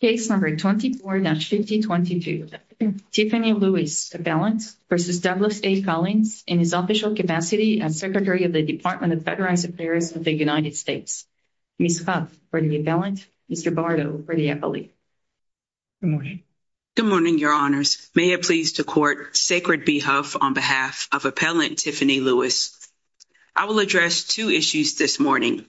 Case No. 24-5022, Tiffany Lewis, Appellant, v. Douglas A. Collins, in his official capacity as Secretary of the Department of Federal Affairs of the United States. Ms. Huff for the Appellant, Mr. Bardo for the Appellee. Good morning. Good morning, Your Honors. May it please the Court, Sacred Be Huff on behalf of Appellant Tiffany Lewis. I will address two issues this morning.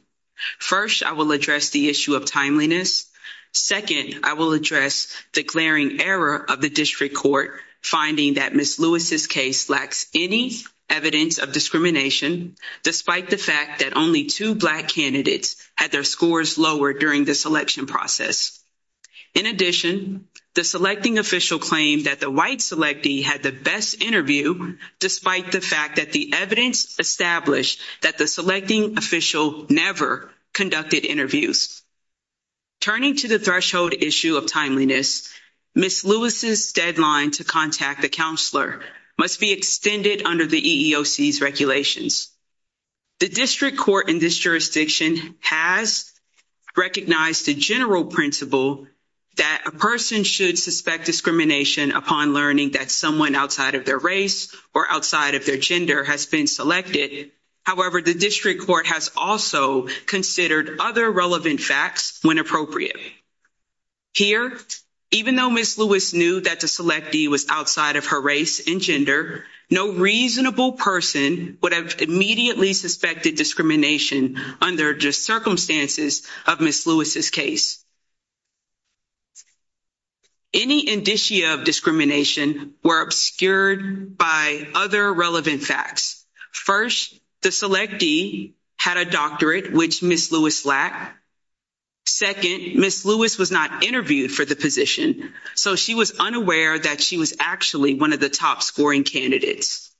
First, I will address the issue of timeliness. Second, I will address the glaring error of the District Court finding that Ms. Lewis' case lacks any evidence of discrimination, despite the fact that only two black candidates had their scores lowered during the selection process. In addition, the selecting official claimed that the white selectee had the best interview, despite the fact that the evidence established that the selecting official never conducted interviews. Turning to the threshold issue of timeliness, Ms. Lewis' deadline to contact the counselor must be extended under the EEOC's regulations. The District Court in this jurisdiction has recognized the general principle that a person should suspect discrimination upon learning that someone outside of their race or outside of their gender has been selected. However, the District Court has also considered other relevant facts when appropriate. Here, even though Ms. Lewis knew that the selectee was outside of her race and gender, no reasonable person would have immediately suspected discrimination under the circumstances of Ms. Lewis' case. Any indicia of discrimination were obscured by other relevant facts. First, the selectee had a doctorate, which Ms. Lewis lacked. Second, Ms. Lewis was not interviewed for the position, so she was unaware that she was actually one of the top-scoring candidates.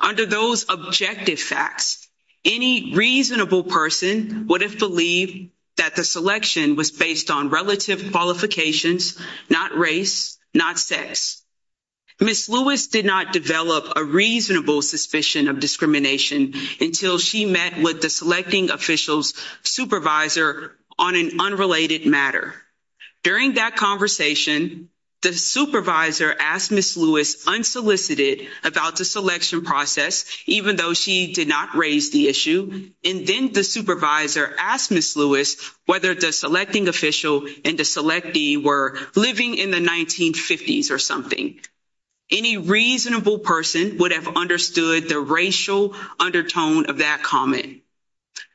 Under those objective facts, any reasonable person would have believed that the selection was based on relative qualifications, not race, not sex. Ms. Lewis did not develop a reasonable suspicion of discrimination until she met with the selecting official's supervisor on an unrelated matter. During that conversation, the supervisor asked Ms. Lewis unsolicited about the selection process even though she did not raise the issue, and then the supervisor asked Ms. Lewis whether the selecting official and the selectee were living in the 1950s or something. Any reasonable person would have understood the racial undertone of that comment.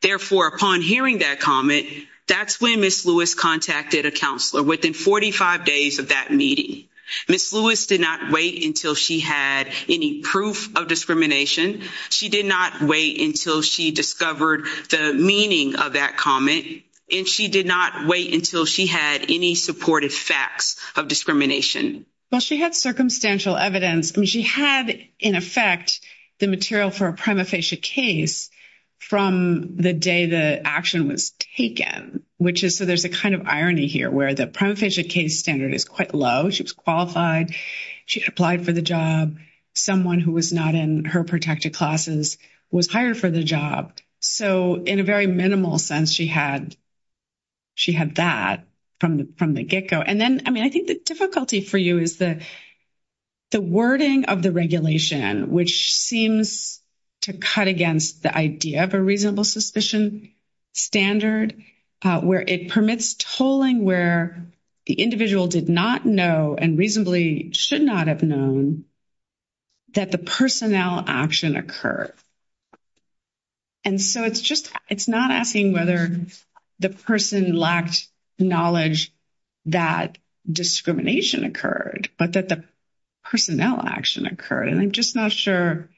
Therefore, upon hearing that comment, that's when Ms. Lewis contacted a counselor within 45 days of that meeting. Ms. Lewis did not wait until she had any proof of discrimination. She did not wait until she discovered the meaning of that comment, and she did not wait until she had any supported facts of discrimination. Well, she had circumstantial evidence. She had, in effect, the material for a prima facie case from the day the action was taken, which is so there's a kind of irony here where the prima facie case standard is quite low. She was qualified. She had applied for the job. Someone who was not in her protected classes was hired for the job. So in a very minimal sense, she had that from the get-go. And then, I mean, I think the difficulty for you is the wording of the regulation, which seems to cut against the idea of a reasonable suspicion standard where it permits tolling where the individual did not know and reasonably should not have known that the personnel action occurred. And so it's just it's not asking whether the person lacked knowledge that discrimination occurred, but that the personnel action occurred. And I'm just not sure,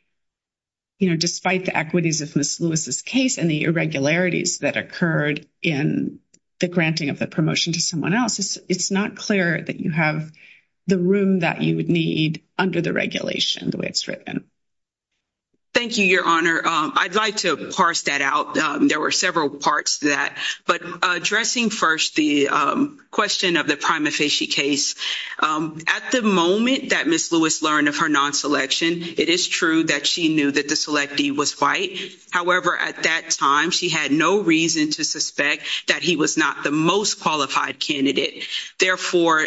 you know, despite the equities of Ms. Lewis's case and the irregularities that occurred in the granting of the promotion to someone else, it's not clear that you have the room that you would need under the regulation the way it's written. Thank you, Your Honor. I'd like to parse that out. There were several parts to that. But addressing first the question of the prima facie case, at the moment that Ms. Lewis learned of her non-selection, it is true that she knew that the selectee was white. However, at that time, she had no reason to suspect that he was not the most qualified candidate. Therefore,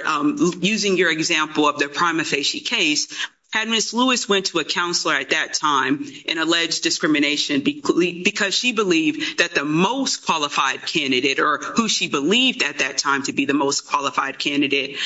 using your example of the prima facie case, had Ms. Lewis went to a counselor at that time and alleged discrimination because she believed that the most qualified candidate or who she believed at that time to be the most qualified candidate.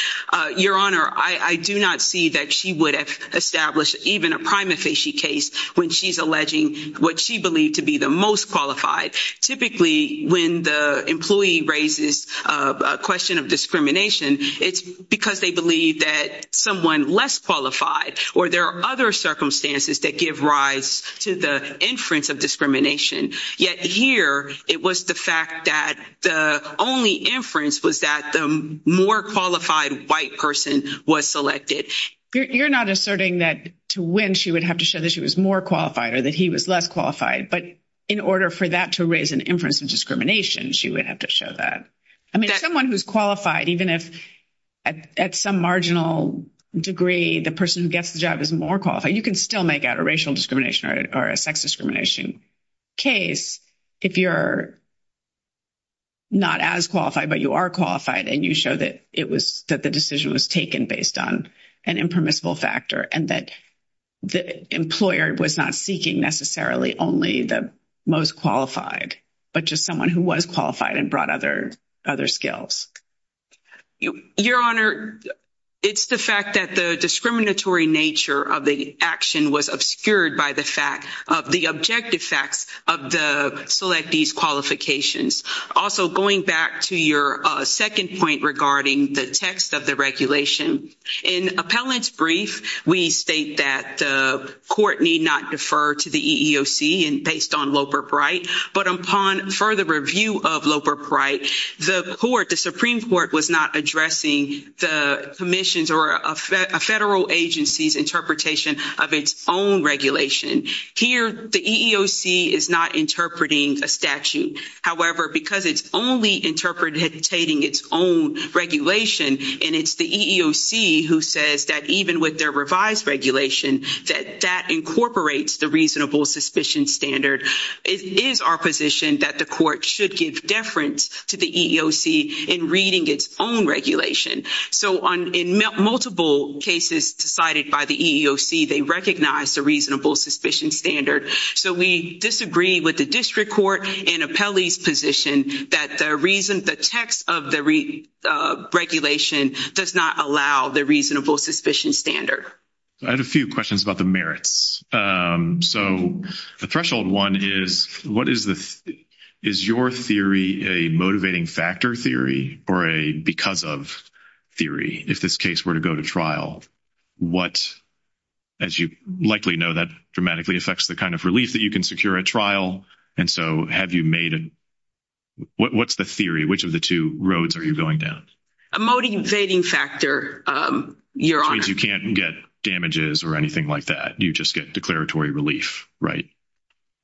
Your Honor, I do not see that she would have established even a prima facie case when she's alleging what she believed to be the most qualified. Typically, when the employee raises a question of discrimination, it's because they believe that someone less qualified or there are other circumstances that give rise to the inference of discrimination. Yet here, it was the fact that the only inference was that the more qualified white person was selected. You're not asserting that to win, she would have to show that she was more qualified or that he was less qualified. But in order for that to raise an inference of discrimination, she would have to show that. I mean, someone who's qualified, even if at some marginal degree, the person who gets the job is more qualified, you can still make out a racial discrimination or a sex discrimination case if you're not as qualified, but you are qualified and you show that the decision was taken based on an impermissible factor and that the employer was not seeking necessarily only the most qualified, but just someone who was qualified and brought other skills. Your Honor, it's the fact that the discriminatory nature of the action was obscured by the objective facts of the selectees' qualifications. Also, going back to your second point regarding the text of the regulation, in appellant's brief, we state that the court need not defer to the EEOC based on Loper-Bright, but upon further review of Loper-Bright, the Supreme Court was not addressing the commission's or a federal agency's interpretation of its own regulation. Here, the EEOC is not interpreting a statute. However, because it's only interpreting its own regulation, and it's the EEOC who says that even with their revised regulation, that that incorporates the reasonable suspicion standard, it is our position that the court should give deference to the EEOC in reading its own regulation. In multiple cases decided by the EEOC, they recognize the reasonable suspicion standard, so we disagree with the district court in appellee's position that the reason the text of the regulation does not allow the reasonable suspicion standard. I had a few questions about the merits. So the threshold one is, what is the, is your theory a motivating factor theory or a because of theory? If this case were to go to trial, what, as you likely know, that dramatically affects the kind of relief that you can secure at trial. And so have you made, what's the theory? Which of the two roads are you going down? A motivating factor, your honor. Which means you can't get damages or anything like that. You just get declaratory relief, right?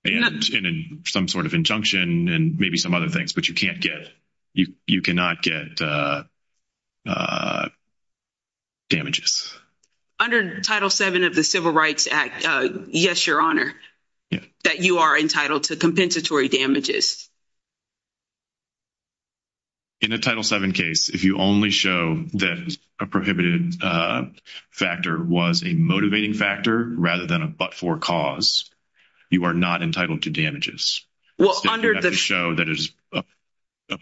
And some sort of injunction and maybe some other things, but you can't get, you cannot get damages. Under Title VII of the Civil Rights Act, yes, your honor, that you are entitled to compensatory damages. In a Title VII case, if you only show that a prohibited factor was a motivating factor rather than a but-for cause, you are not entitled to damages. You have to show that it's a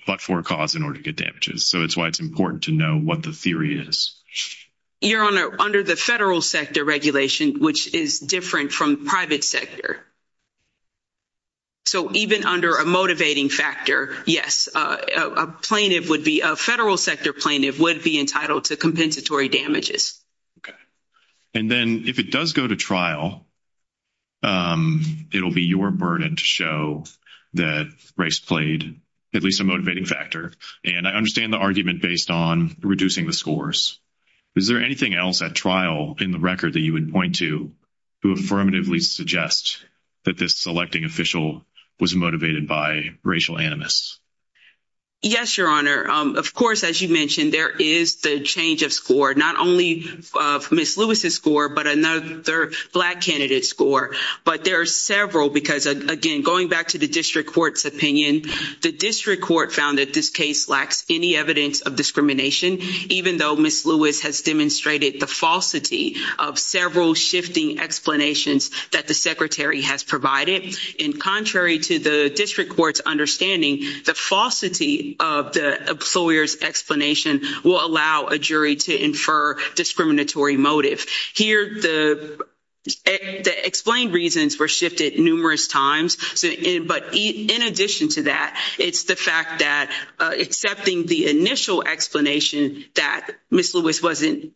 but-for cause in order to get damages. So it's why it's important to know what the theory is. Your honor, under the federal sector regulation, which is different from private sector. So even under a motivating factor, yes, a plaintiff would be, a federal sector plaintiff would be entitled to compensatory damages. And then if it does go to trial, it'll be your burden to show that Rice played at least a motivating factor. And I understand the argument based on reducing the scores. Is there anything else at trial in the record that you would point to to affirmatively suggest that this selecting official was motivated by racial animus? Yes, your honor. Of course, as you mentioned, there is the change of score, not only of Ms. Lewis's score, but another black candidate's score. But there are several because, again, going back to the district court's opinion, the district court found that this case lacks any evidence of discrimination, even though Ms. Lewis has demonstrated the falsity of several shifting explanations that the secretary has provided. And contrary to the district court's understanding, the falsity of the employer's explanation will allow a jury to infer discriminatory motive. Here the explained reasons were shifted numerous times. But in addition to that, it's the fact that accepting the initial explanation that Ms. Lewis wasn't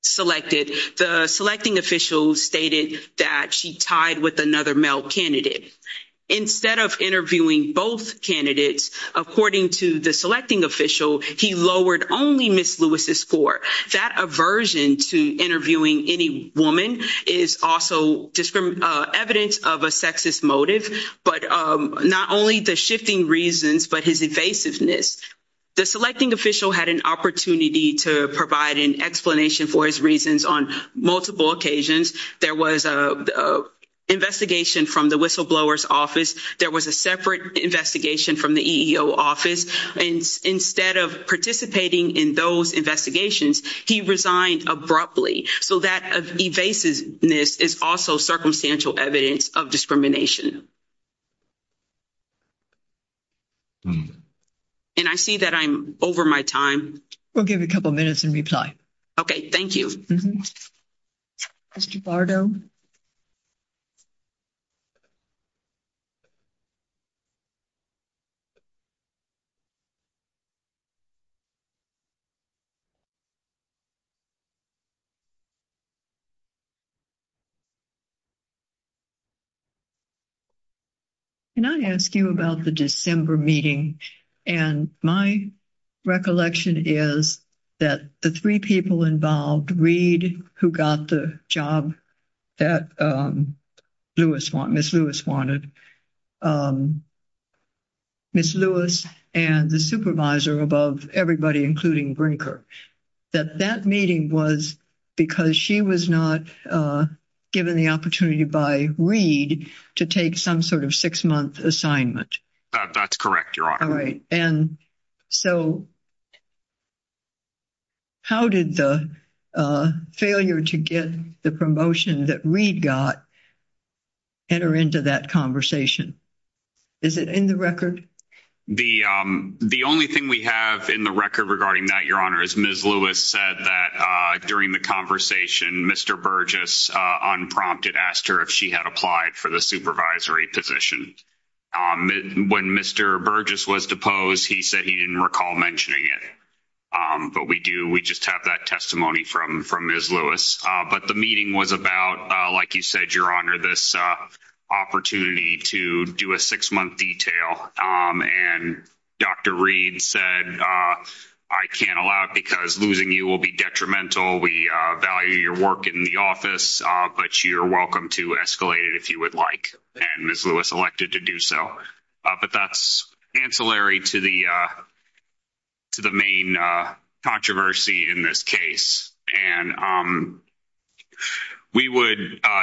selected, the selecting official stated that she tied with another male candidate. Instead of interviewing both candidates, according to the selecting official, he lowered only Ms. Lewis's score. That aversion to interviewing any woman is also evidence of a sexist motive, but not only the shifting reasons, but his evasiveness. The selecting official had an opportunity to provide an explanation for his reasons on multiple occasions. There was an investigation from the whistleblower's office. There was a separate investigation from the EEO office. Instead of participating in those investigations, he resigned abruptly. So that evasiveness is also circumstantial evidence of discrimination. And I see that I'm over my time. We'll give you a couple minutes and reply. Okay, thank you. Mr. Bardo? Can I ask you about the December meeting? And my recollection is that the three people involved, Reid, who got the job that Ms. Lewis wanted, Ms. Lewis, and the supervisor above everybody, including Brinker, that that meeting was because she was not given the opportunity by Reid to take some sort of six-month assignment. That's correct, Your Honor. All right. And so how did the failure to get the promotion that Reid got enter into that conversation? Is it in the record? The only thing we have in the record regarding that, Your Honor, is Ms. Lewis said that during the conversation, Mr. Burgess unprompted asked her if she had applied for the supervisory position. When Mr. Burgess was deposed, he said he didn't recall mentioning it. But we do. We just have that testimony from Ms. Lewis. But the meeting was about, like you said, Your Honor, this opportunity to do a six-month detail. And Dr. Reid said, I can't allow it because losing you will be detrimental. We value your work in the office, but you're welcome to escalate it if you would like. And Ms. Lewis elected to do so. But that's ancillary to the main controversy in this case. And we would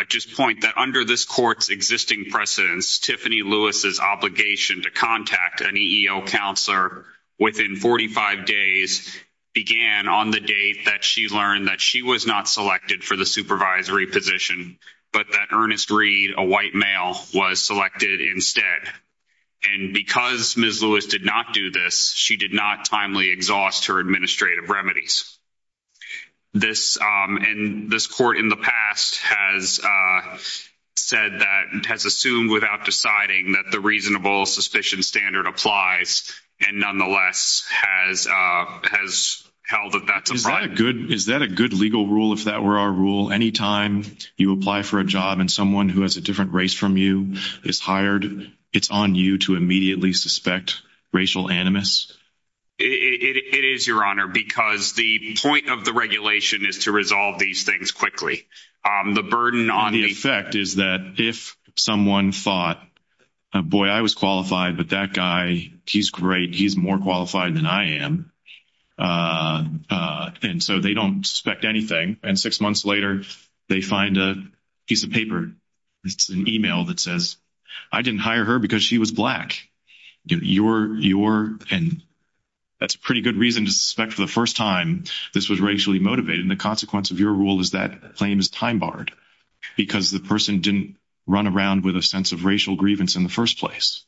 just point that under this court's existing precedence, Tiffany Lewis's obligation to contact an EEO counselor within 45 days began on the date that she learned that she was not selected for the supervisory position, but that Ernest Reid, a white male, was selected instead. And because Ms. Lewis did not do this, she did not timely exhaust her administrative remedies. And this court in the past has said that, has assumed without deciding that the reasonable suspicion standard applies, and nonetheless has held that that's a crime. Is that a good legal rule, if that were our rule, anytime you apply for a job and someone who has a different race from you is hired, it's on you to immediately suspect racial animus? It is, Your Honor, because the point of the regulation is to resolve these things quickly. The burden on the- And the effect is that if someone thought, boy, I was qualified, but that guy, he's great, he's more qualified than I am, and so they don't suspect anything, and six months later they find a piece of paper, it's an email that says, I didn't hire her because she was black. You're, and that's a pretty good reason to suspect for the first time this was racially motivated, and the consequence of your rule is that claim is time-barred, because the person didn't run around with a sense of racial grievance in the first place.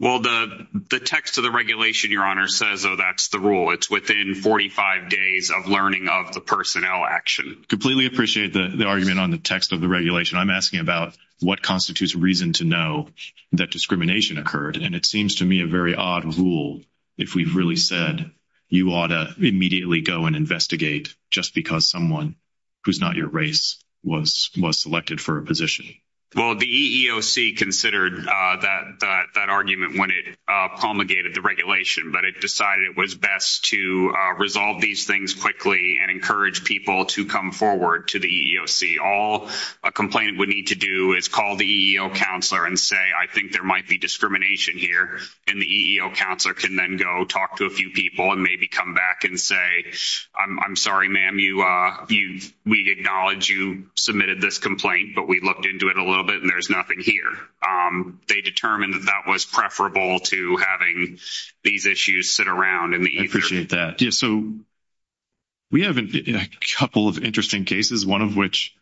Well, the text of the regulation, Your Honor, says, oh, that's the rule. It's within 45 days of learning of the personnel action. Completely appreciate the argument on the text of the regulation. I'm asking about what constitutes reason to know that discrimination occurred, and it seems to me a very odd rule if we've really said you ought to immediately go and investigate just because someone who's not your race was selected for a position. Well, the EEOC considered that argument when it promulgated the regulation, but it decided it was best to resolve these things quickly and encourage people to come forward to the EEOC. All a complainant would need to do is call the EEOC counselor and say, I think there might be discrimination here, and the EEOC counselor can then go talk to a few people and maybe come back and say, I'm sorry, ma'am, we acknowledge you submitted this complaint, but we looked into it a little bit, and there's nothing here. They determined that that was preferable to having these issues sit around in the EEOC. I appreciate that. Yeah, so we have a couple of interesting cases, one of which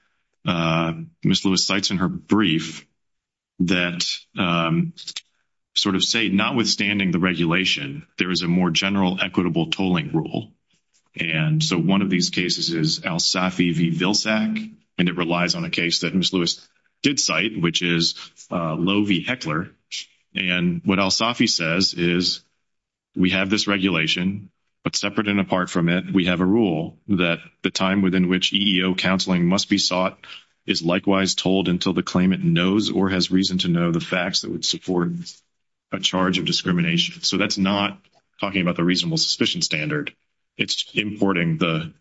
Ms. Lewis cites in her brief that sort of say notwithstanding the regulation, there is a more general equitable tolling rule. And so one of these cases is Alsafi v. Vilsack, and it relies on a case that Ms. Lewis did cite, which is Lowe v. Heckler. And what Alsafi says is, we have this regulation, but separate and apart from it, we have a rule that the time within which EEO counseling must be sought is likewise tolled until the claimant knows or has reason to know the facts that would support a charge of discrimination. So that's not talking about the reasonable suspicion standard. It's importing the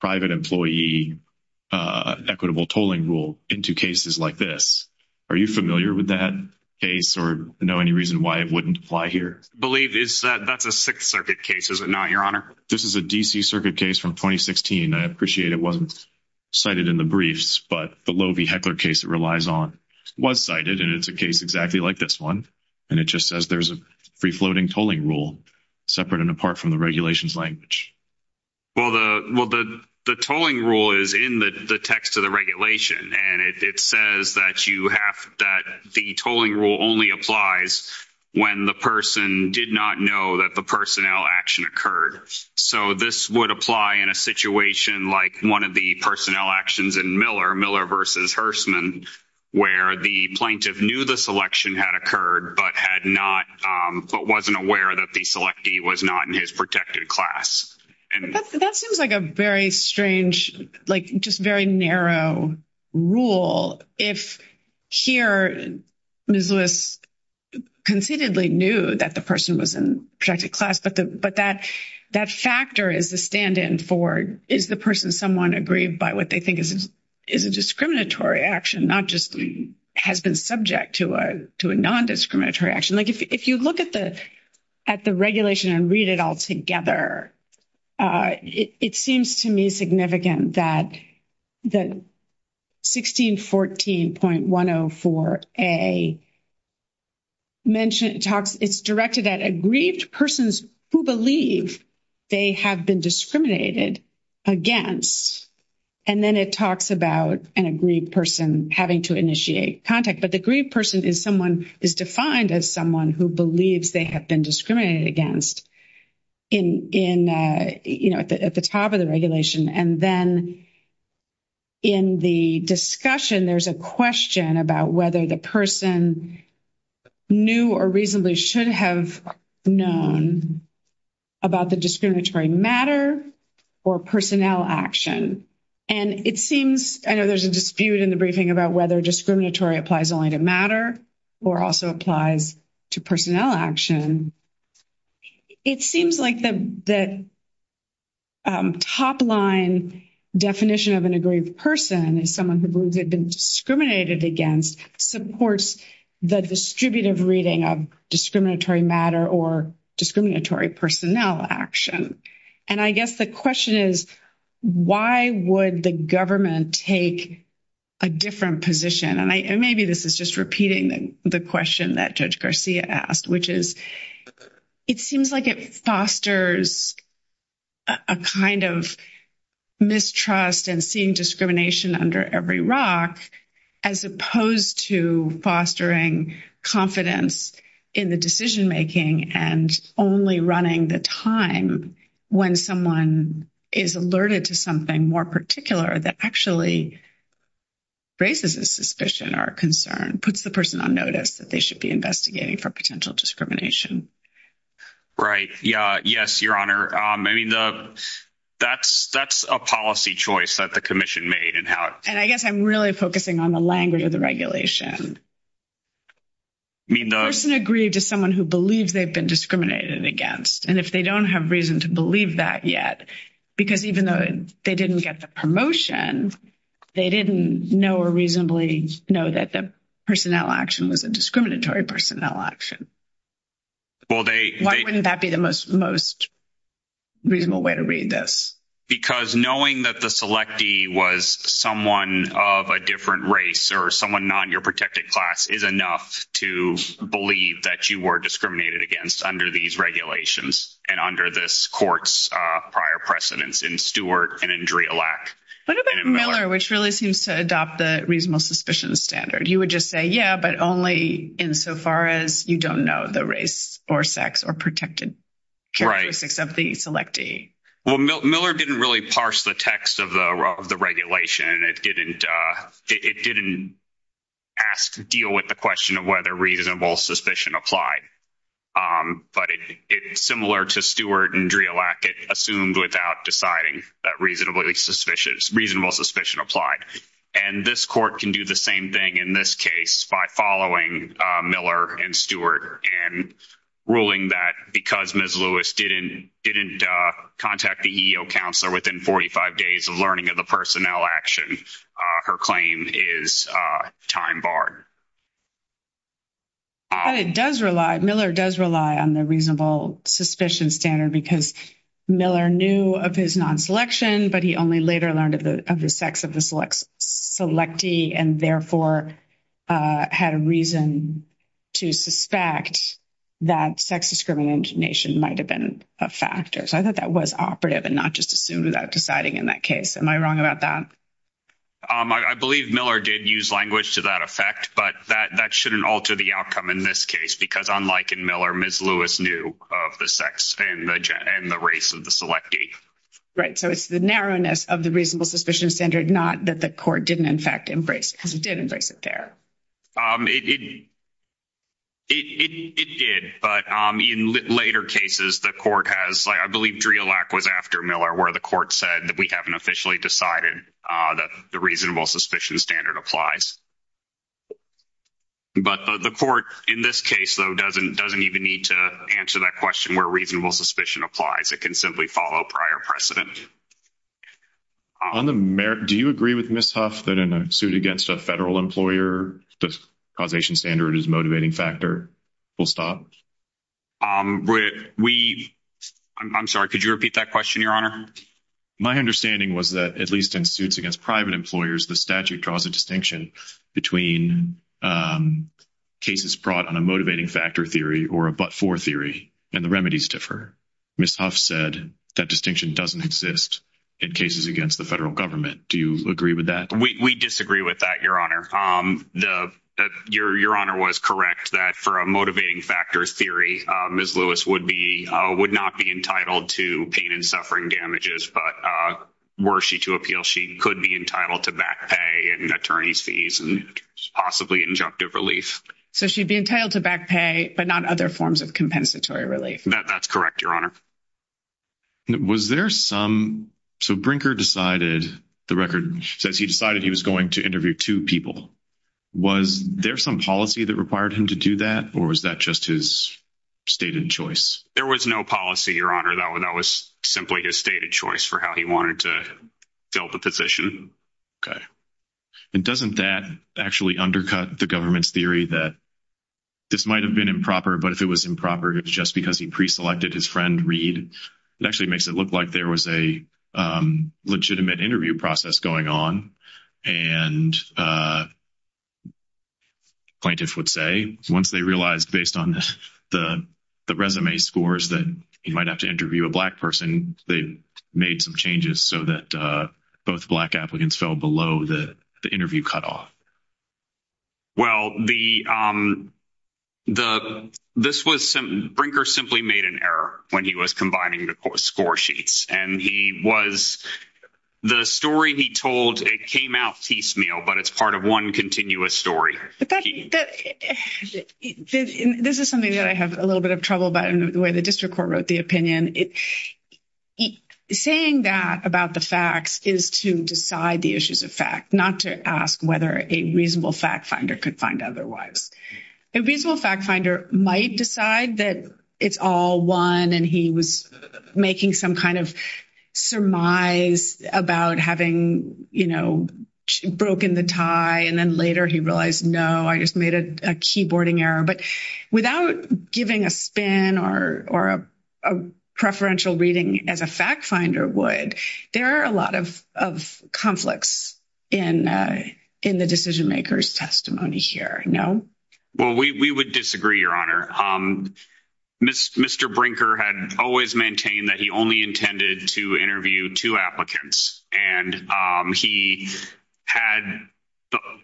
private employee equitable tolling rule into cases like this. Are you familiar with that case or know any reason why it wouldn't apply here? I believe that's a Sixth Circuit case, is it not, Your Honor? This is a D.C. Circuit case from 2016. I appreciate it wasn't cited in the briefs, but the Lowe v. Heckler case it relies on was cited, and it's a case exactly like this one. And it just says there's a free-floating tolling rule separate and apart from the regulation's Well, the tolling rule is in the text of the regulation, and it says that the tolling rule only applies when the person did not know that the personnel action occurred. So this would apply in a situation like one of the personnel actions in Miller, Miller v. Hersman, where the plaintiff knew the selection had occurred, but wasn't aware that the selectee was not in his protected class. That seems like a very strange, like just very narrow rule if here Ms. Lewis concededly knew that the person was in protected class, but that factor is the stand-in for is the someone aggrieved by what they think is a discriminatory action, not just has been subject to a non-discriminatory action. Like if you look at the regulation and read it all together, it seems to me significant that 1614.104A talks, it's directed at aggrieved persons who believe they have been discriminated against, and then it talks about an aggrieved person having to initiate contact, but the aggrieved person is someone is defined as someone who believes they have been discriminated against in, you know, at the top of the regulation. And then in the discussion, there's a question about whether the person knew or reasonably should have known about the discriminatory matter or personnel action. And it seems, I know there's a dispute in the briefing about whether discriminatory applies only to matter or also applies to personnel action. It seems like the top-line definition of an aggrieved person is someone who believes they've been discriminated against supports the distributive reading of discriminatory matter or discriminatory personnel action. And I guess the question is, why would the government take a different position? And maybe this is just repeating the question that Judge Garcia asked, which is, it seems like it fosters a kind of mistrust and seeing discrimination under every rock, as opposed to fostering confidence in the decision-making and only running the time when someone is alerted to something more particular that actually raises a suspicion or a concern, puts the person on notice that they should be investigating for potential discrimination. Right, yeah, yes, Your Honor. I mean, that's a policy choice that the Commission made and how it- And I guess I'm really focusing on the language of the regulation. I mean, the- The person aggrieved is someone who believes they've been discriminated against. And if they don't have reason to believe that yet, because even though they didn't get the promotion, they didn't know or reasonably know that the personnel action was a discriminatory personnel action. Well, they- Why wouldn't that be the most reasonable way to read this? Because knowing that the selectee was someone of a different race or someone not in your protected class is enough to believe that you were discriminated against under these regulations and under this court's prior precedents in Stewart and Andrea Lack. What about Miller, which really seems to adopt the reasonable suspicion standard? You would just say, yeah, but only insofar as you don't know the race or sex or protected characteristics of the selectee. Well, Miller didn't really parse the text of the regulation. It didn't ask- deal with the question of whether reasonable suspicion applied. But it's similar to Stewart and Andrea Lack. It assumed without deciding that reasonable suspicion applied. And this court can do the same thing in this case by following Miller and Stewart and ruling that because Ms. Lewis didn't contact the EEO counselor within 45 days of learning of the personnel action, her claim is time barred. But it does rely- Miller does rely on the reasonable suspicion standard because Miller knew of his non-selection, but he only later learned of the sex of the selectee and therefore had a reason to suspect that sex discrimination might have been a factor. So I thought that was operative and not just assumed without deciding in that case. Am I wrong about that? I believe Miller did use language to that effect, but that shouldn't alter the outcome in this case because unlike in Miller, Ms. Lewis knew of the sex and the race of the selectee. Right. So it's the narrowness of the reasonable suspicion standard, not that the court didn't, in fact, embrace because it did embrace it there. It did, but in later cases, the court has- I believe Drielack was after Miller where the court said that we haven't officially decided that the reasonable suspicion standard applies. But the court, in this case, though, doesn't even need to answer that question where reasonable suspicion applies. It can simply follow prior precedent. On the merit- do you agree with Ms. Huff that in a suit against a federal employer, the causation standard is a motivating factor? Will it stop? We- I'm sorry, could you repeat that question, Your Honor? My understanding was that at least in suits against private employers, the statute draws a distinction between cases brought on a motivating factor theory or a but-for theory, and the remedies differ. Ms. Huff said that distinction doesn't exist in cases against the federal government. Do you agree with that? We disagree with that, Your Honor. Your Honor was correct that for a motivating factor theory, Ms. Lewis would be- would not be entitled to pain and suffering damages, but were she to appeal, she could be entitled to attorney's fees and possibly injunctive relief. So she'd be entitled to back pay, but not other forms of compensatory relief. That's correct, Your Honor. Was there some- so Brinker decided- the record says he decided he was going to interview two people. Was there some policy that required him to do that, or was that just his stated choice? There was no policy, Your Honor. That was simply his stated choice for how he wanted to fill the position. Okay. And doesn't that actually undercut the government's theory that this might have been improper, but if it was improper, it was just because he pre-selected his friend, Reed? It actually makes it look like there was a legitimate interview process going on. And plaintiffs would say, once they realized, based on the resume scores, that he might have to interview a Black person, they made some changes so that both Black applicants fell below the interview cutoff. Well, the- this was- Brinker simply made an error when he was combining the score sheets, and he was- the story he told, it came out piecemeal, but it's part of one continuous story. This is something that I have a little bit of trouble about in the way the district court wrote the opinion. Saying that about the facts is to decide the issues of fact, not to ask whether a reasonable fact finder could find otherwise. A reasonable fact finder might decide that it's all one, and he was making some kind of surmise about having, you know, broken the tie, and then later he realized, no, I just made a keyboarding error. Without giving a spin or a preferential reading as a fact finder would, there are a lot of conflicts in the decision-maker's testimony here, no? Well, we would disagree, Your Honor. Mr. Brinker had always maintained that he only intended to interview two applicants, and he had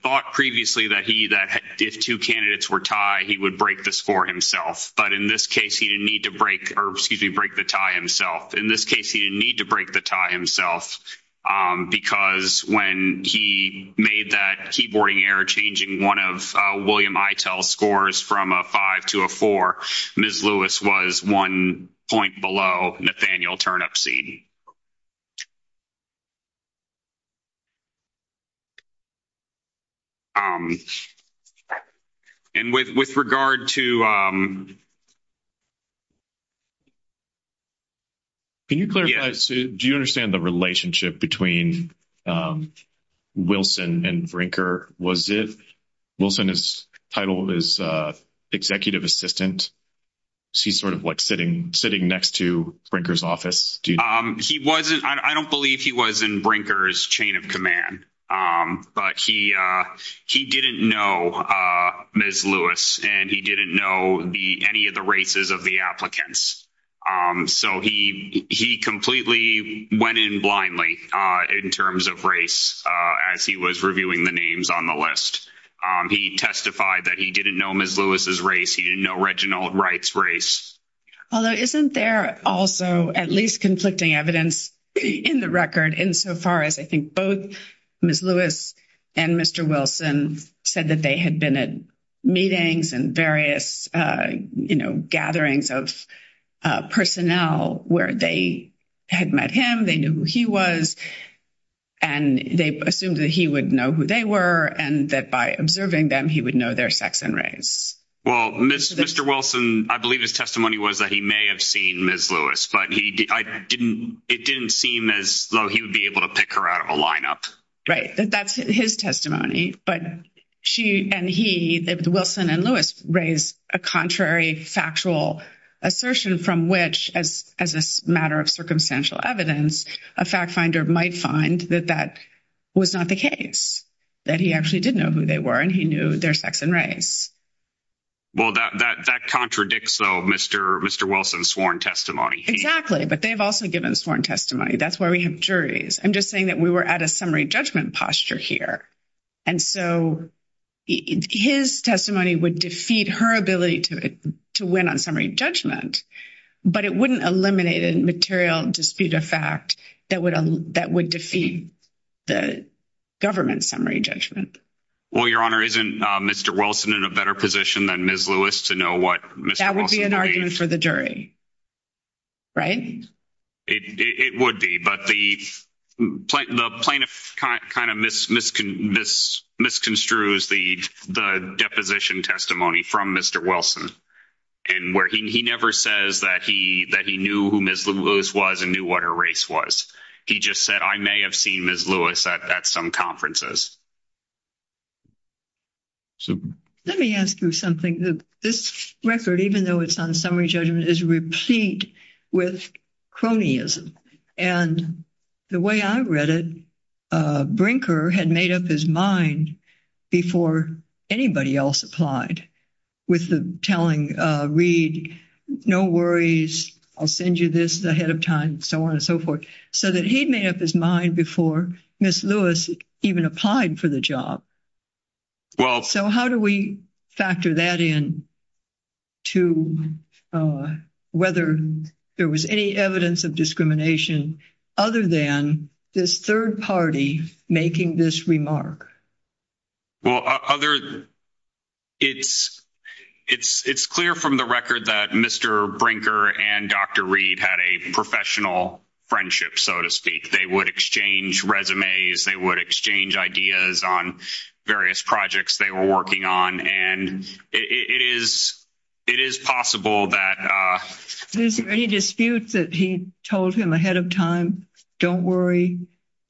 thought previously that he- that if two candidates were tied, he would break the score himself. But in this case, he didn't need to break- or, excuse me, break the tie himself. In this case, he didn't need to break the tie himself because when he made that keyboarding error changing one of William Itell's scores from a 5 to a 4, Ms. Lewis was one point below Nathaniel Turnipseed. And with regard to- Can you clarify, do you understand the relationship between Wilson and Brinker? Was it- Wilson's title is executive assistant, so he's sort of, like, sitting next to Brinker's office, do you- He wasn't- I don't believe he was in Brinker's chain of command. But he didn't know Ms. Lewis, and he didn't know any of the races of the applicants. So he completely went in blindly in terms of race as he was reviewing the names on the list. He testified that he didn't know Ms. Lewis's race, he didn't know Reginald Wright's race. Although isn't there also at least conflicting evidence in the record insofar as I think both Ms. Lewis and Mr. Wilson said that they had been at meetings and various, you know, gatherings of personnel where they had met him, they knew who he was, and they assumed that he would know who they were, and that by observing them he would know their sex and race. Well, Mr. Wilson, I believe his testimony was that he may have seen Ms. Lewis, but it didn't seem as though he would be able to pick her out of a lineup. Right, that's his testimony. But she and he, Wilson and Lewis, raised a contrary factual assertion from which, as a matter of circumstantial evidence, a fact finder might find that that was not the case, that he actually did know who they were and he knew their sex and race. Well, that contradicts, though, Mr. Wilson's sworn testimony. Exactly, but they've also given sworn testimony. That's why we have juries. I'm just saying that we were at a summary judgment posture here, and so his testimony would defeat her ability to win on summary judgment, but it wouldn't eliminate a material dispute of fact that would defeat the government's summary judgment. Well, Your Honor, isn't Mr. Wilson in a better position than Ms. Lewis to know what Mr. That would be an argument for the jury, right? It would be, but the plaintiff kind of misconstrues the deposition testimony from Mr. Wilson, and where he never says that he knew who Ms. Lewis was and knew what her race was. He just said, I may have seen Ms. Lewis at some conferences. So let me ask you something. This record, even though it's on summary judgment, is replete with cronyism, and the way I read it, Brinker had made up his mind before anybody else applied with the telling, read, no worries, I'll send you this ahead of time, so on and so forth, so that he'd made up his mind before Ms. Lewis even applied for the job. So how do we factor that in to whether there was any evidence of discrimination other than this third party making this remark? Well, it's clear from the record that Mr. Brinker and Dr. Reed had a professional friendship, so to speak. They would exchange resumes. They would exchange ideas on various projects they were working on, and it is possible that- Is there any dispute that he told him ahead of time, don't worry,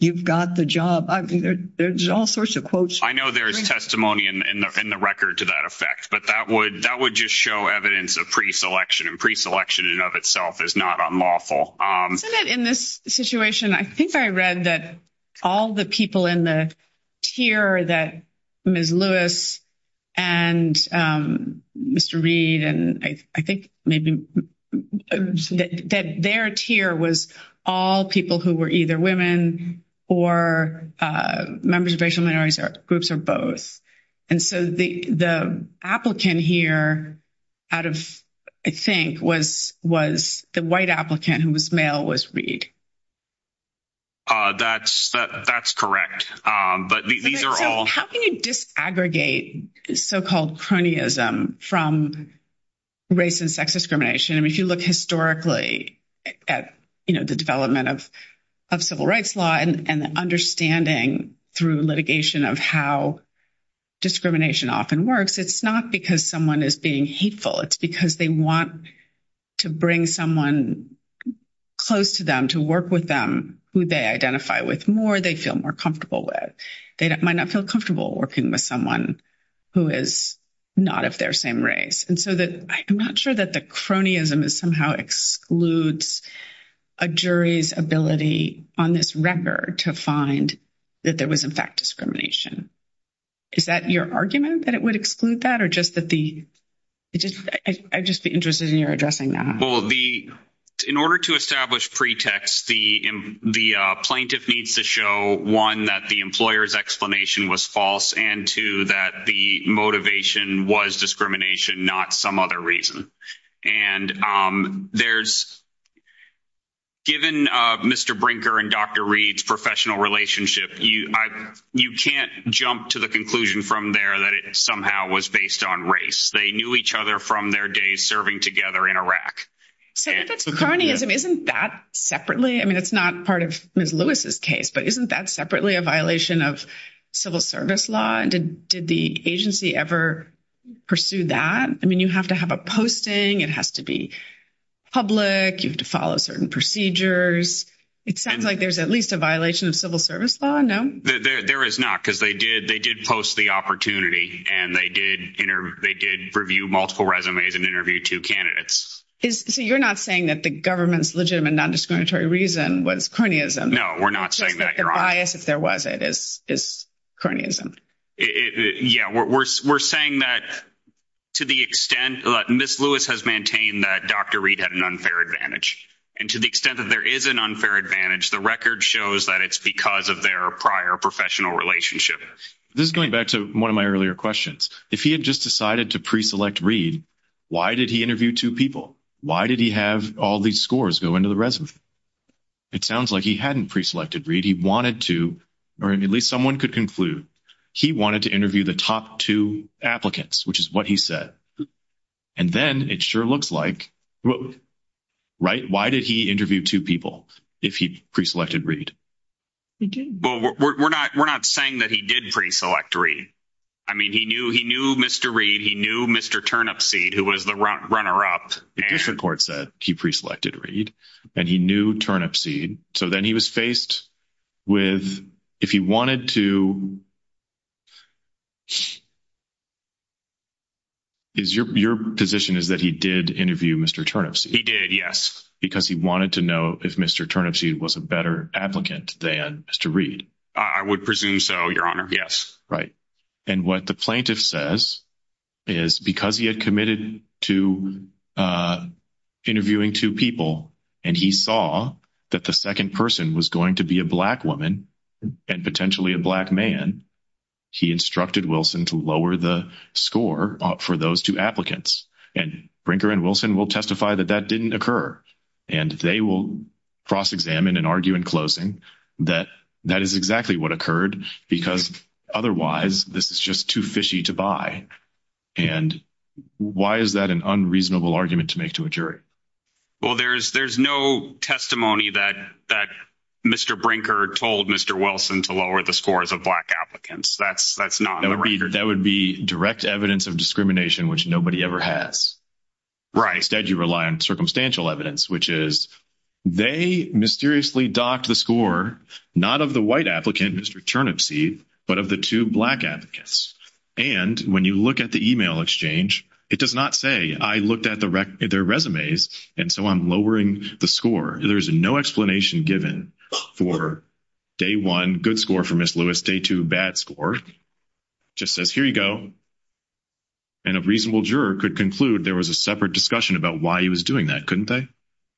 you've got the job? There's all sorts of quotes. I know there is testimony in the record to that effect, but that would just show evidence of preselection, and preselection in and of itself is not unlawful. In this situation, I think I read that all the people in the tier that Ms. Lewis and Mr. Reed, and I think maybe that their tier was all people who were either women or members of racial minorities or groups or both. And so the applicant here out of, I think, was the white applicant who was male was Reed. That's correct, but these are all- How can you disaggregate so-called cronyism from race and sex discrimination? I mean, if you look historically at the development of civil rights law and the understanding through litigation of how discrimination often works, it's not because someone is being hateful, it's because they want to bring someone close to them to work with them who they identify with more, they feel more comfortable with. They might not feel comfortable working with someone who is not of their same race. And so I'm not sure that the cronyism is somehow excludes a jury's ability on this record to find that there was, in fact, discrimination. Is that your argument that it would exclude that or just that the- I'd just be interested in your addressing that. Well, in order to establish pretext, the plaintiff needs to show, one, that the employer's explanation was false and two, that the motivation was discrimination, not some other reason. And there's- given Mr. Brinker and Dr. Reed's professional relationship, you can't jump to the conclusion from there that it somehow was based on race. They knew each other from their days serving together in Iraq. So if it's cronyism, isn't that separately? I mean, it's not part of Ms. Lewis's case, but isn't that separately a violation of civil service law? Did the agency ever pursue that? I mean, you have to have a posting. It has to be public. You have to follow certain procedures. It sounds like there's at least a violation of civil service law, no? There is not because they did post the opportunity and they did review multiple resumes and interview two candidates. So you're not saying that the government's legitimate non-discriminatory reason was cronyism? No, we're not saying that. Just that the bias, if there was it, is cronyism. Yeah, we're saying that to the extent that Ms. Lewis has maintained that Dr. Reed had an unfair advantage. And to the extent that there is an unfair advantage, the record shows that it's because of their prior professional relationship. This is going back to one of my earlier questions. If he had just decided to pre-select Reed, why did he interview two people? Why did he have all these scores go into the resume? It sounds like he hadn't pre-selected Reed. He wanted to, or at least someone could conclude, he wanted to interview the top two applicants, which is what he said. And then it sure looks like, right? Why did he interview two people if he pre-selected Reed? Well, we're not saying that he did pre-select Reed. I mean, he knew Mr. Reed. He knew Mr. Turnipseed, who was the runner up. The district court said he pre-selected Reed and he knew Turnipseed. So then he was faced with, if he wanted to... Your position is that he did interview Mr. Turnipseed? He did, yes. Because he wanted to know if Mr. Turnipseed was a better applicant than Mr. Reed? I would presume so, Your Honor. Yes. Right. And what the plaintiff says is because he had committed to interviewing two people and he saw that the second person was going to be a black woman and potentially a black man, he instructed Wilson to lower the score for those two applicants. And Brinker and Wilson will testify that that didn't occur. And they will cross-examine and argue in closing that that is exactly what occurred, because otherwise this is just too fishy to buy. And why is that an unreasonable argument to make to a jury? Well, there's no testimony that Mr. Brinker told Mr. Wilson to lower the scores of black applicants. That's not on the record. That would be direct evidence of discrimination, which nobody ever has. Right. Instead, you rely on circumstantial evidence, which is they mysteriously docked the score, not of the white applicant, Mr. Turnipseed, but of the two black applicants. And when you look at the email exchange, it does not say, I looked at their resumes, and so I'm lowering the score. There's no explanation given for day one, good score for Ms. Lewis, day two, bad score. It just says, here you go. And a reasonable juror could conclude there was a separate discussion about why he was doing that, couldn't they?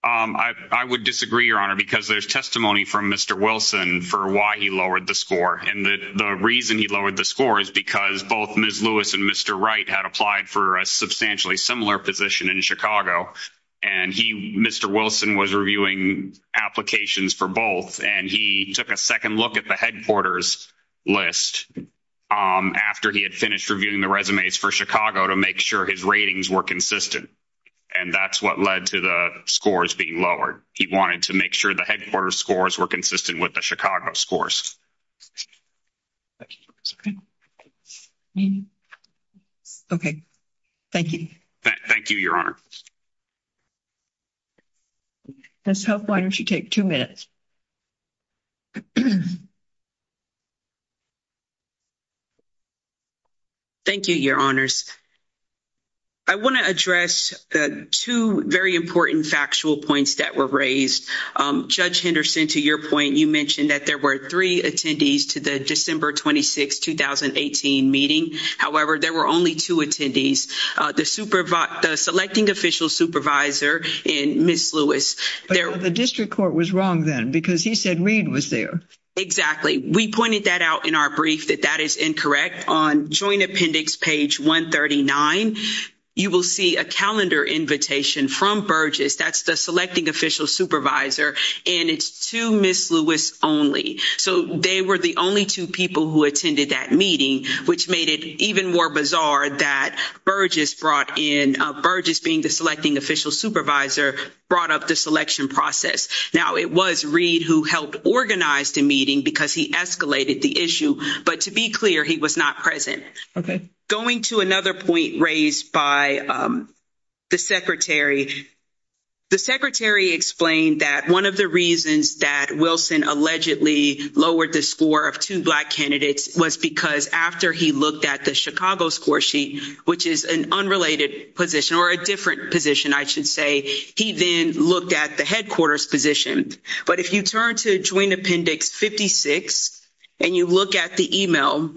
I would disagree, Your Honor, because there's testimony from Mr. Wilson for why he lowered the score. And the reason he lowered the score is because both Ms. Lewis and Mr. Wright had applied for a substantially similar position in Chicago, and Mr. Wilson was reviewing applications for both, and he took a second look at the headquarters list after he had finished reviewing the resumes for Chicago to make sure his ratings were consistent. And that's what led to the scores being lowered. He wanted to make sure the headquarters scores were consistent with the Chicago scores. Okay, thank you. Thank you, Your Honor. Ms. Hope, why don't you take two minutes? Thank you, Your Honors. I want to address the two very important factual points that were raised. Judge Henderson, to your point, you mentioned that there were three attendees to the December 26, 2018 meeting. However, there were only two attendees, the selecting official supervisor and Ms. Lewis. The district court was wrong then because he said Reed was there. Exactly. We pointed that out in our brief that that is incorrect. On Joint Appendix page 139, you will see a calendar invitation from Burgess. That's the selecting official supervisor, and it's two Ms. Lewis only. So, they were the only two people who attended that meeting, which made it even more bizarre that Burgess brought in—Burgess being the selecting official supervisor—brought up the selection process. Now, it was Reed who helped organize the meeting because he escalated the issue. But to be clear, he was not present. Okay. Going to another point raised by the secretary, the secretary explained that one of the reasons that Wilson allegedly lowered the score of two Black candidates was because after he looked at the Chicago score sheet, which is an unrelated position—or a different position, I should say—he then looked at the headquarters position. But if you turn to Joint Appendix 56 and you look at the email,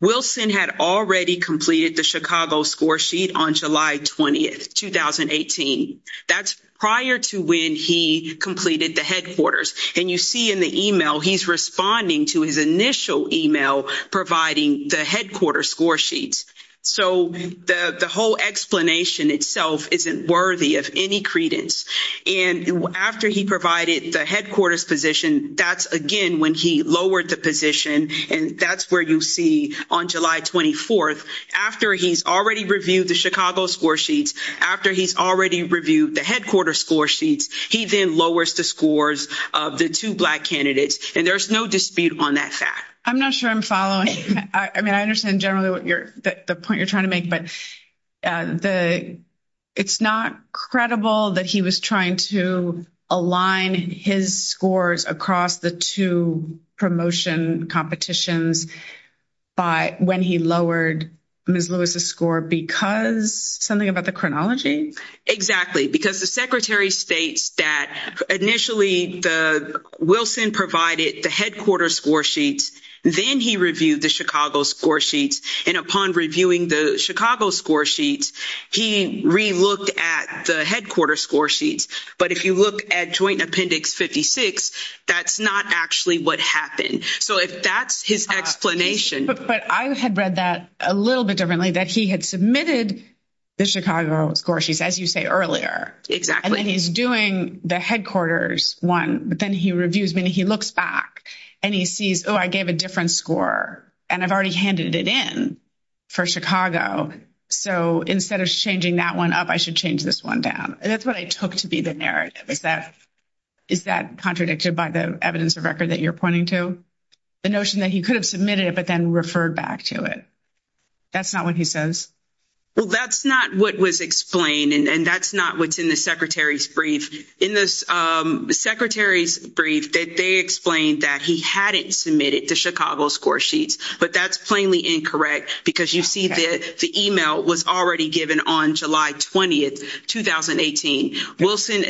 Wilson had already completed the Chicago score sheet on July 20, 2018. That's prior to when he completed the headquarters. And you see in the email, he's responding to his initial email providing the headquarters score sheets. So, the whole explanation itself isn't worthy of any credence. And after he provided the headquarters position, that's again when he lowered the position. And that's where you see on July 24, after he's already reviewed the Chicago score sheets, after he's already reviewed the headquarters score sheets, he then lowers the scores of the two Black candidates. And there's no dispute on that fact. I'm not sure I'm following. I mean, I understand generally what you're—the point you're trying to make. But the—it's not credible that he was trying to align his scores across the two promotion competitions by—when he lowered Ms. Lewis's score because—something about the chronology? Exactly. Because the secretary states that initially the—Wilson provided the headquarters score sheets. Then he reviewed the Chicago score sheets. And upon reviewing the Chicago score sheets, he re-looked at the headquarters score sheets. But if you look at Joint Appendix 56, that's not actually what happened. So, if that's his explanation— But I had read that a little bit differently, that he had submitted the Chicago score sheets, as you say, earlier. Exactly. And then he's doing the headquarters one. But then he reviews—I mean, he looks back, and he sees, oh, I gave a different score, and I've already handed it in for Chicago. So, instead of changing that one up, I should change this one down. That's what I took to be the narrative. Is that—is that contradicted by the evidence of record that you're pointing to? The notion that he could have submitted it but then referred back to it. That's not what he says? Well, that's not what was explained, and that's not what's in the secretary's brief. In the secretary's brief, they explained that he hadn't submitted the Chicago score sheets. But that's plainly incorrect, because you see that the email was already given on July 20, 2018. Wilson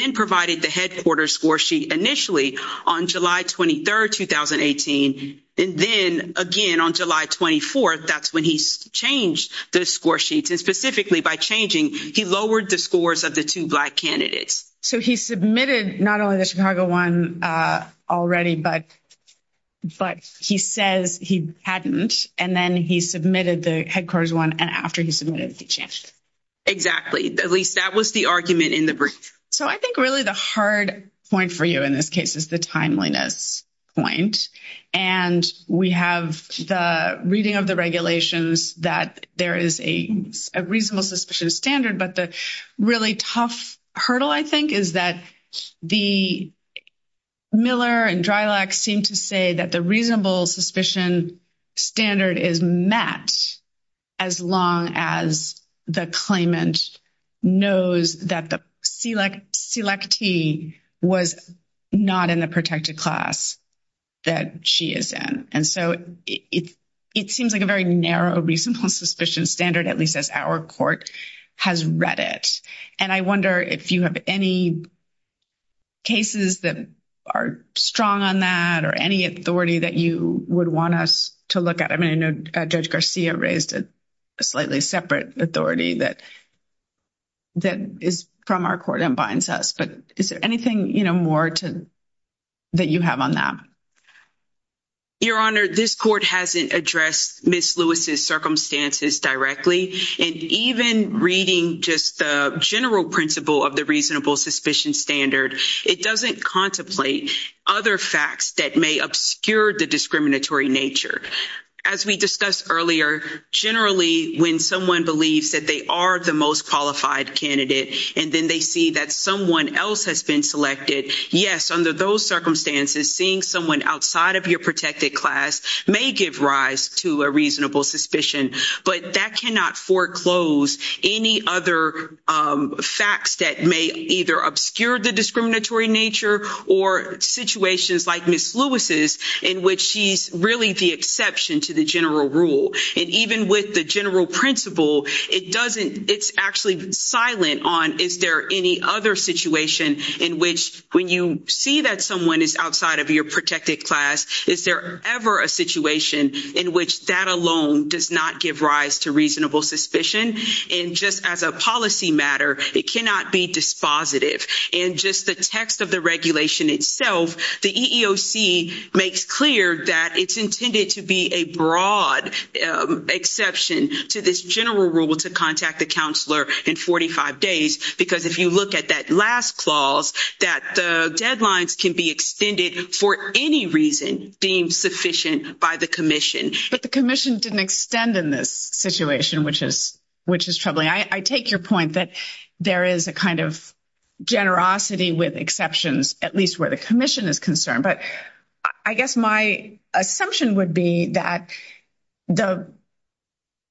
then provided the headquarters score sheet initially on July 23, 2018. And then, again, on July 24, that's when he changed the score sheets. Specifically, by changing, he lowered the scores of the two Black candidates. So, he submitted not only the Chicago one already, but he says he hadn't. And then he submitted the headquarters one, and after he submitted, he changed it. Exactly. At least that was the argument in the brief. So, I think really the hard point for you in this case is the timeliness point. And we have the reading of the regulations that there is a reasonable suspicion standard. But the really tough hurdle, I think, is that Miller and Drylock seem to say that the reasonable suspicion standard is met as long as the claimant knows that the selectee was not in the protected class that she is in. And so, it seems like a very narrow reasonable suspicion standard, at least as our court has read it. And I wonder if you have any cases that are strong on that, or any authority that you would want us to look at. I mean, I know Judge Garcia raised a slightly separate authority that is from our court and binds us. Is there anything more that you have on that? Your Honor, this court hasn't addressed Ms. Lewis's circumstances directly. And even reading just the general principle of the reasonable suspicion standard, it doesn't contemplate other facts that may obscure the discriminatory nature. As we discussed earlier, generally, when someone believes that they are the most qualified candidate, and then they see that someone else has been selected, yes, under those circumstances, seeing someone outside of your protected class may give rise to a reasonable suspicion. But that cannot foreclose any other facts that may either obscure the discriminatory nature or situations like Ms. Lewis's, in which she's really the exception to the general rule. And even with the general principle, it's actually silent on, is there any other situation in which, when you see that someone is outside of your protected class, is there ever a situation in which that alone does not give rise to reasonable suspicion? And just as a policy matter, it cannot be dispositive. In just the text of the regulation itself, the EEOC makes clear that it's intended to be a broad exception to this general rule to contact the counselor in 45 days, because if you look at that last clause, that the deadlines can be extended for any reason deemed sufficient by the commission. But the commission didn't extend in this situation, which is troubling. I take your point that there is a kind of generosity with exceptions, at least where the commission is concerned. But I guess my assumption would be that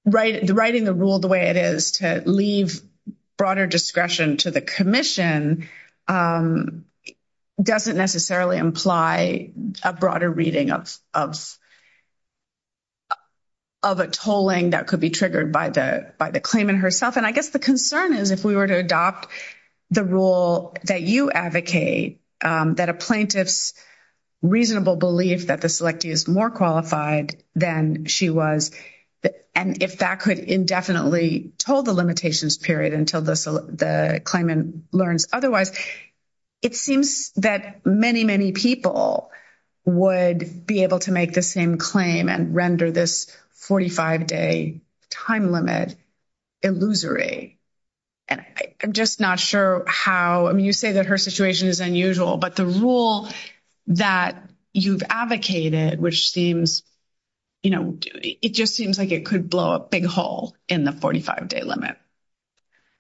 writing the rule the way it is to leave broader discretion to the commission doesn't necessarily imply a broader reading of a tolling that could be triggered by the claimant herself. And I guess the concern is, if we were to adopt the rule that you advocate, that a plaintiff's reasonable belief that the selectee is more qualified than she was, and if that could indefinitely toll the limitations period until the claimant learns otherwise, it seems that many, many people would be able to make the same claim and render this 45-day time limit illusory. You say that her situation is unusual, but the rule that you've advocated, it just seems like it could blow a big hole in the 45-day limit.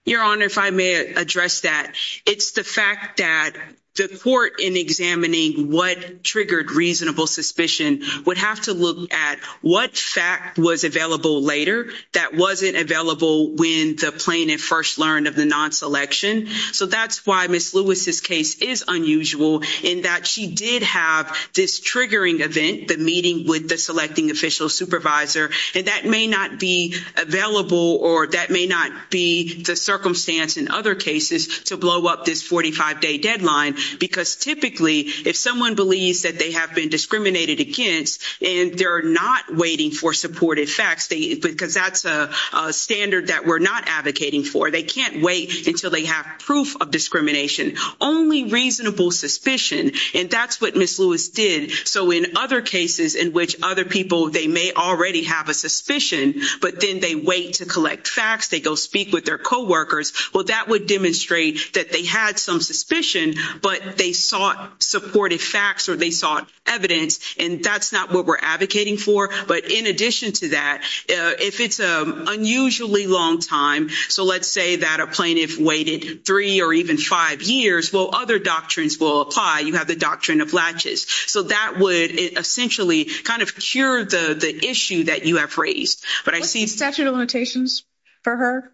Your Honor, if I may address that, it's the fact that the court, in examining what triggered reasonable suspicion, would have to look at what fact was available later that wasn't available when the plaintiff first learned of the non-selection. So that's why Ms. Lewis's case is unusual in that she did have this triggering event, the meeting with the selecting official supervisor, and that may not be available or that may not be the circumstance in other cases to blow up this 45-day deadline. Because typically, if someone believes that they have been discriminated against and they're not waiting for supportive facts, because that's a standard that we're not advocating for, they can't wait until they have proof of discrimination. Only reasonable suspicion, and that's what Ms. Lewis did. So in other cases in which other people, they may already have a suspicion, but then they wait to collect facts, they go speak with their coworkers, well, that would demonstrate that they had some suspicion, but they sought supportive facts or they sought evidence, and that's not what we're advocating for. But in addition to that, if it's an unusually long time, so let's say that a plaintiff waited three or even five years, well, other doctrines will apply. You have the doctrine of latches. So that would essentially kind of cure the issue that you have raised. But I see— What's the statute of limitations for her,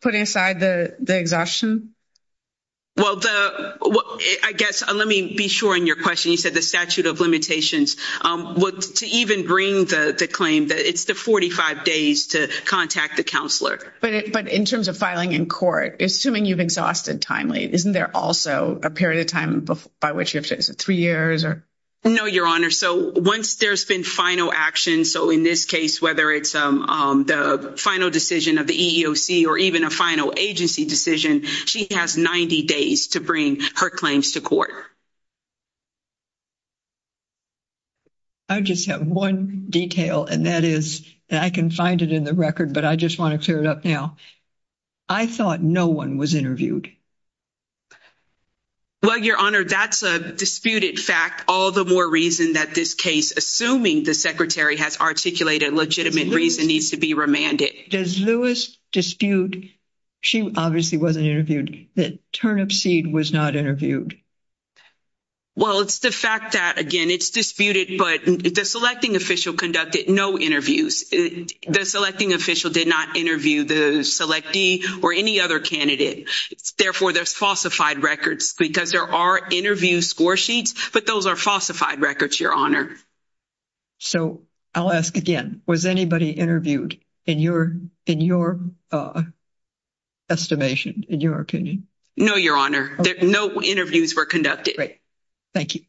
putting aside the exhaustion? Well, I guess, let me be sure in your question, you said the statute of limitations. Well, to even bring the claim that it's the 45 days to contact the counselor. But in terms of filing in court, assuming you've exhausted timely, isn't there also a period of time by which you have to—is it three years or—? No, Your Honor. So once there's been final action, so in this case, whether it's the final decision of the EEOC or even a final agency decision, she has 90 days to bring her claims to court. I just have one detail, and that is—and I can find it in the record, but I just want to clear it up now—I thought no one was interviewed. Well, Your Honor, that's a disputed fact, all the more reason that this case, assuming the Secretary has articulated legitimate reason, needs to be remanded. Does Lewis dispute—she obviously wasn't interviewed—that Turnipseed was not interviewed? Well, it's the fact that, again, it's disputed, but the selecting official conducted no interviews. The selecting official did not interview the selectee or any other candidate. Therefore, there's falsified records, because there are interview score sheets, but those are falsified records, Your Honor. So I'll ask again, was anybody interviewed in your estimation, in your opinion? No, Your Honor. No interviews were conducted. Great. Thank you.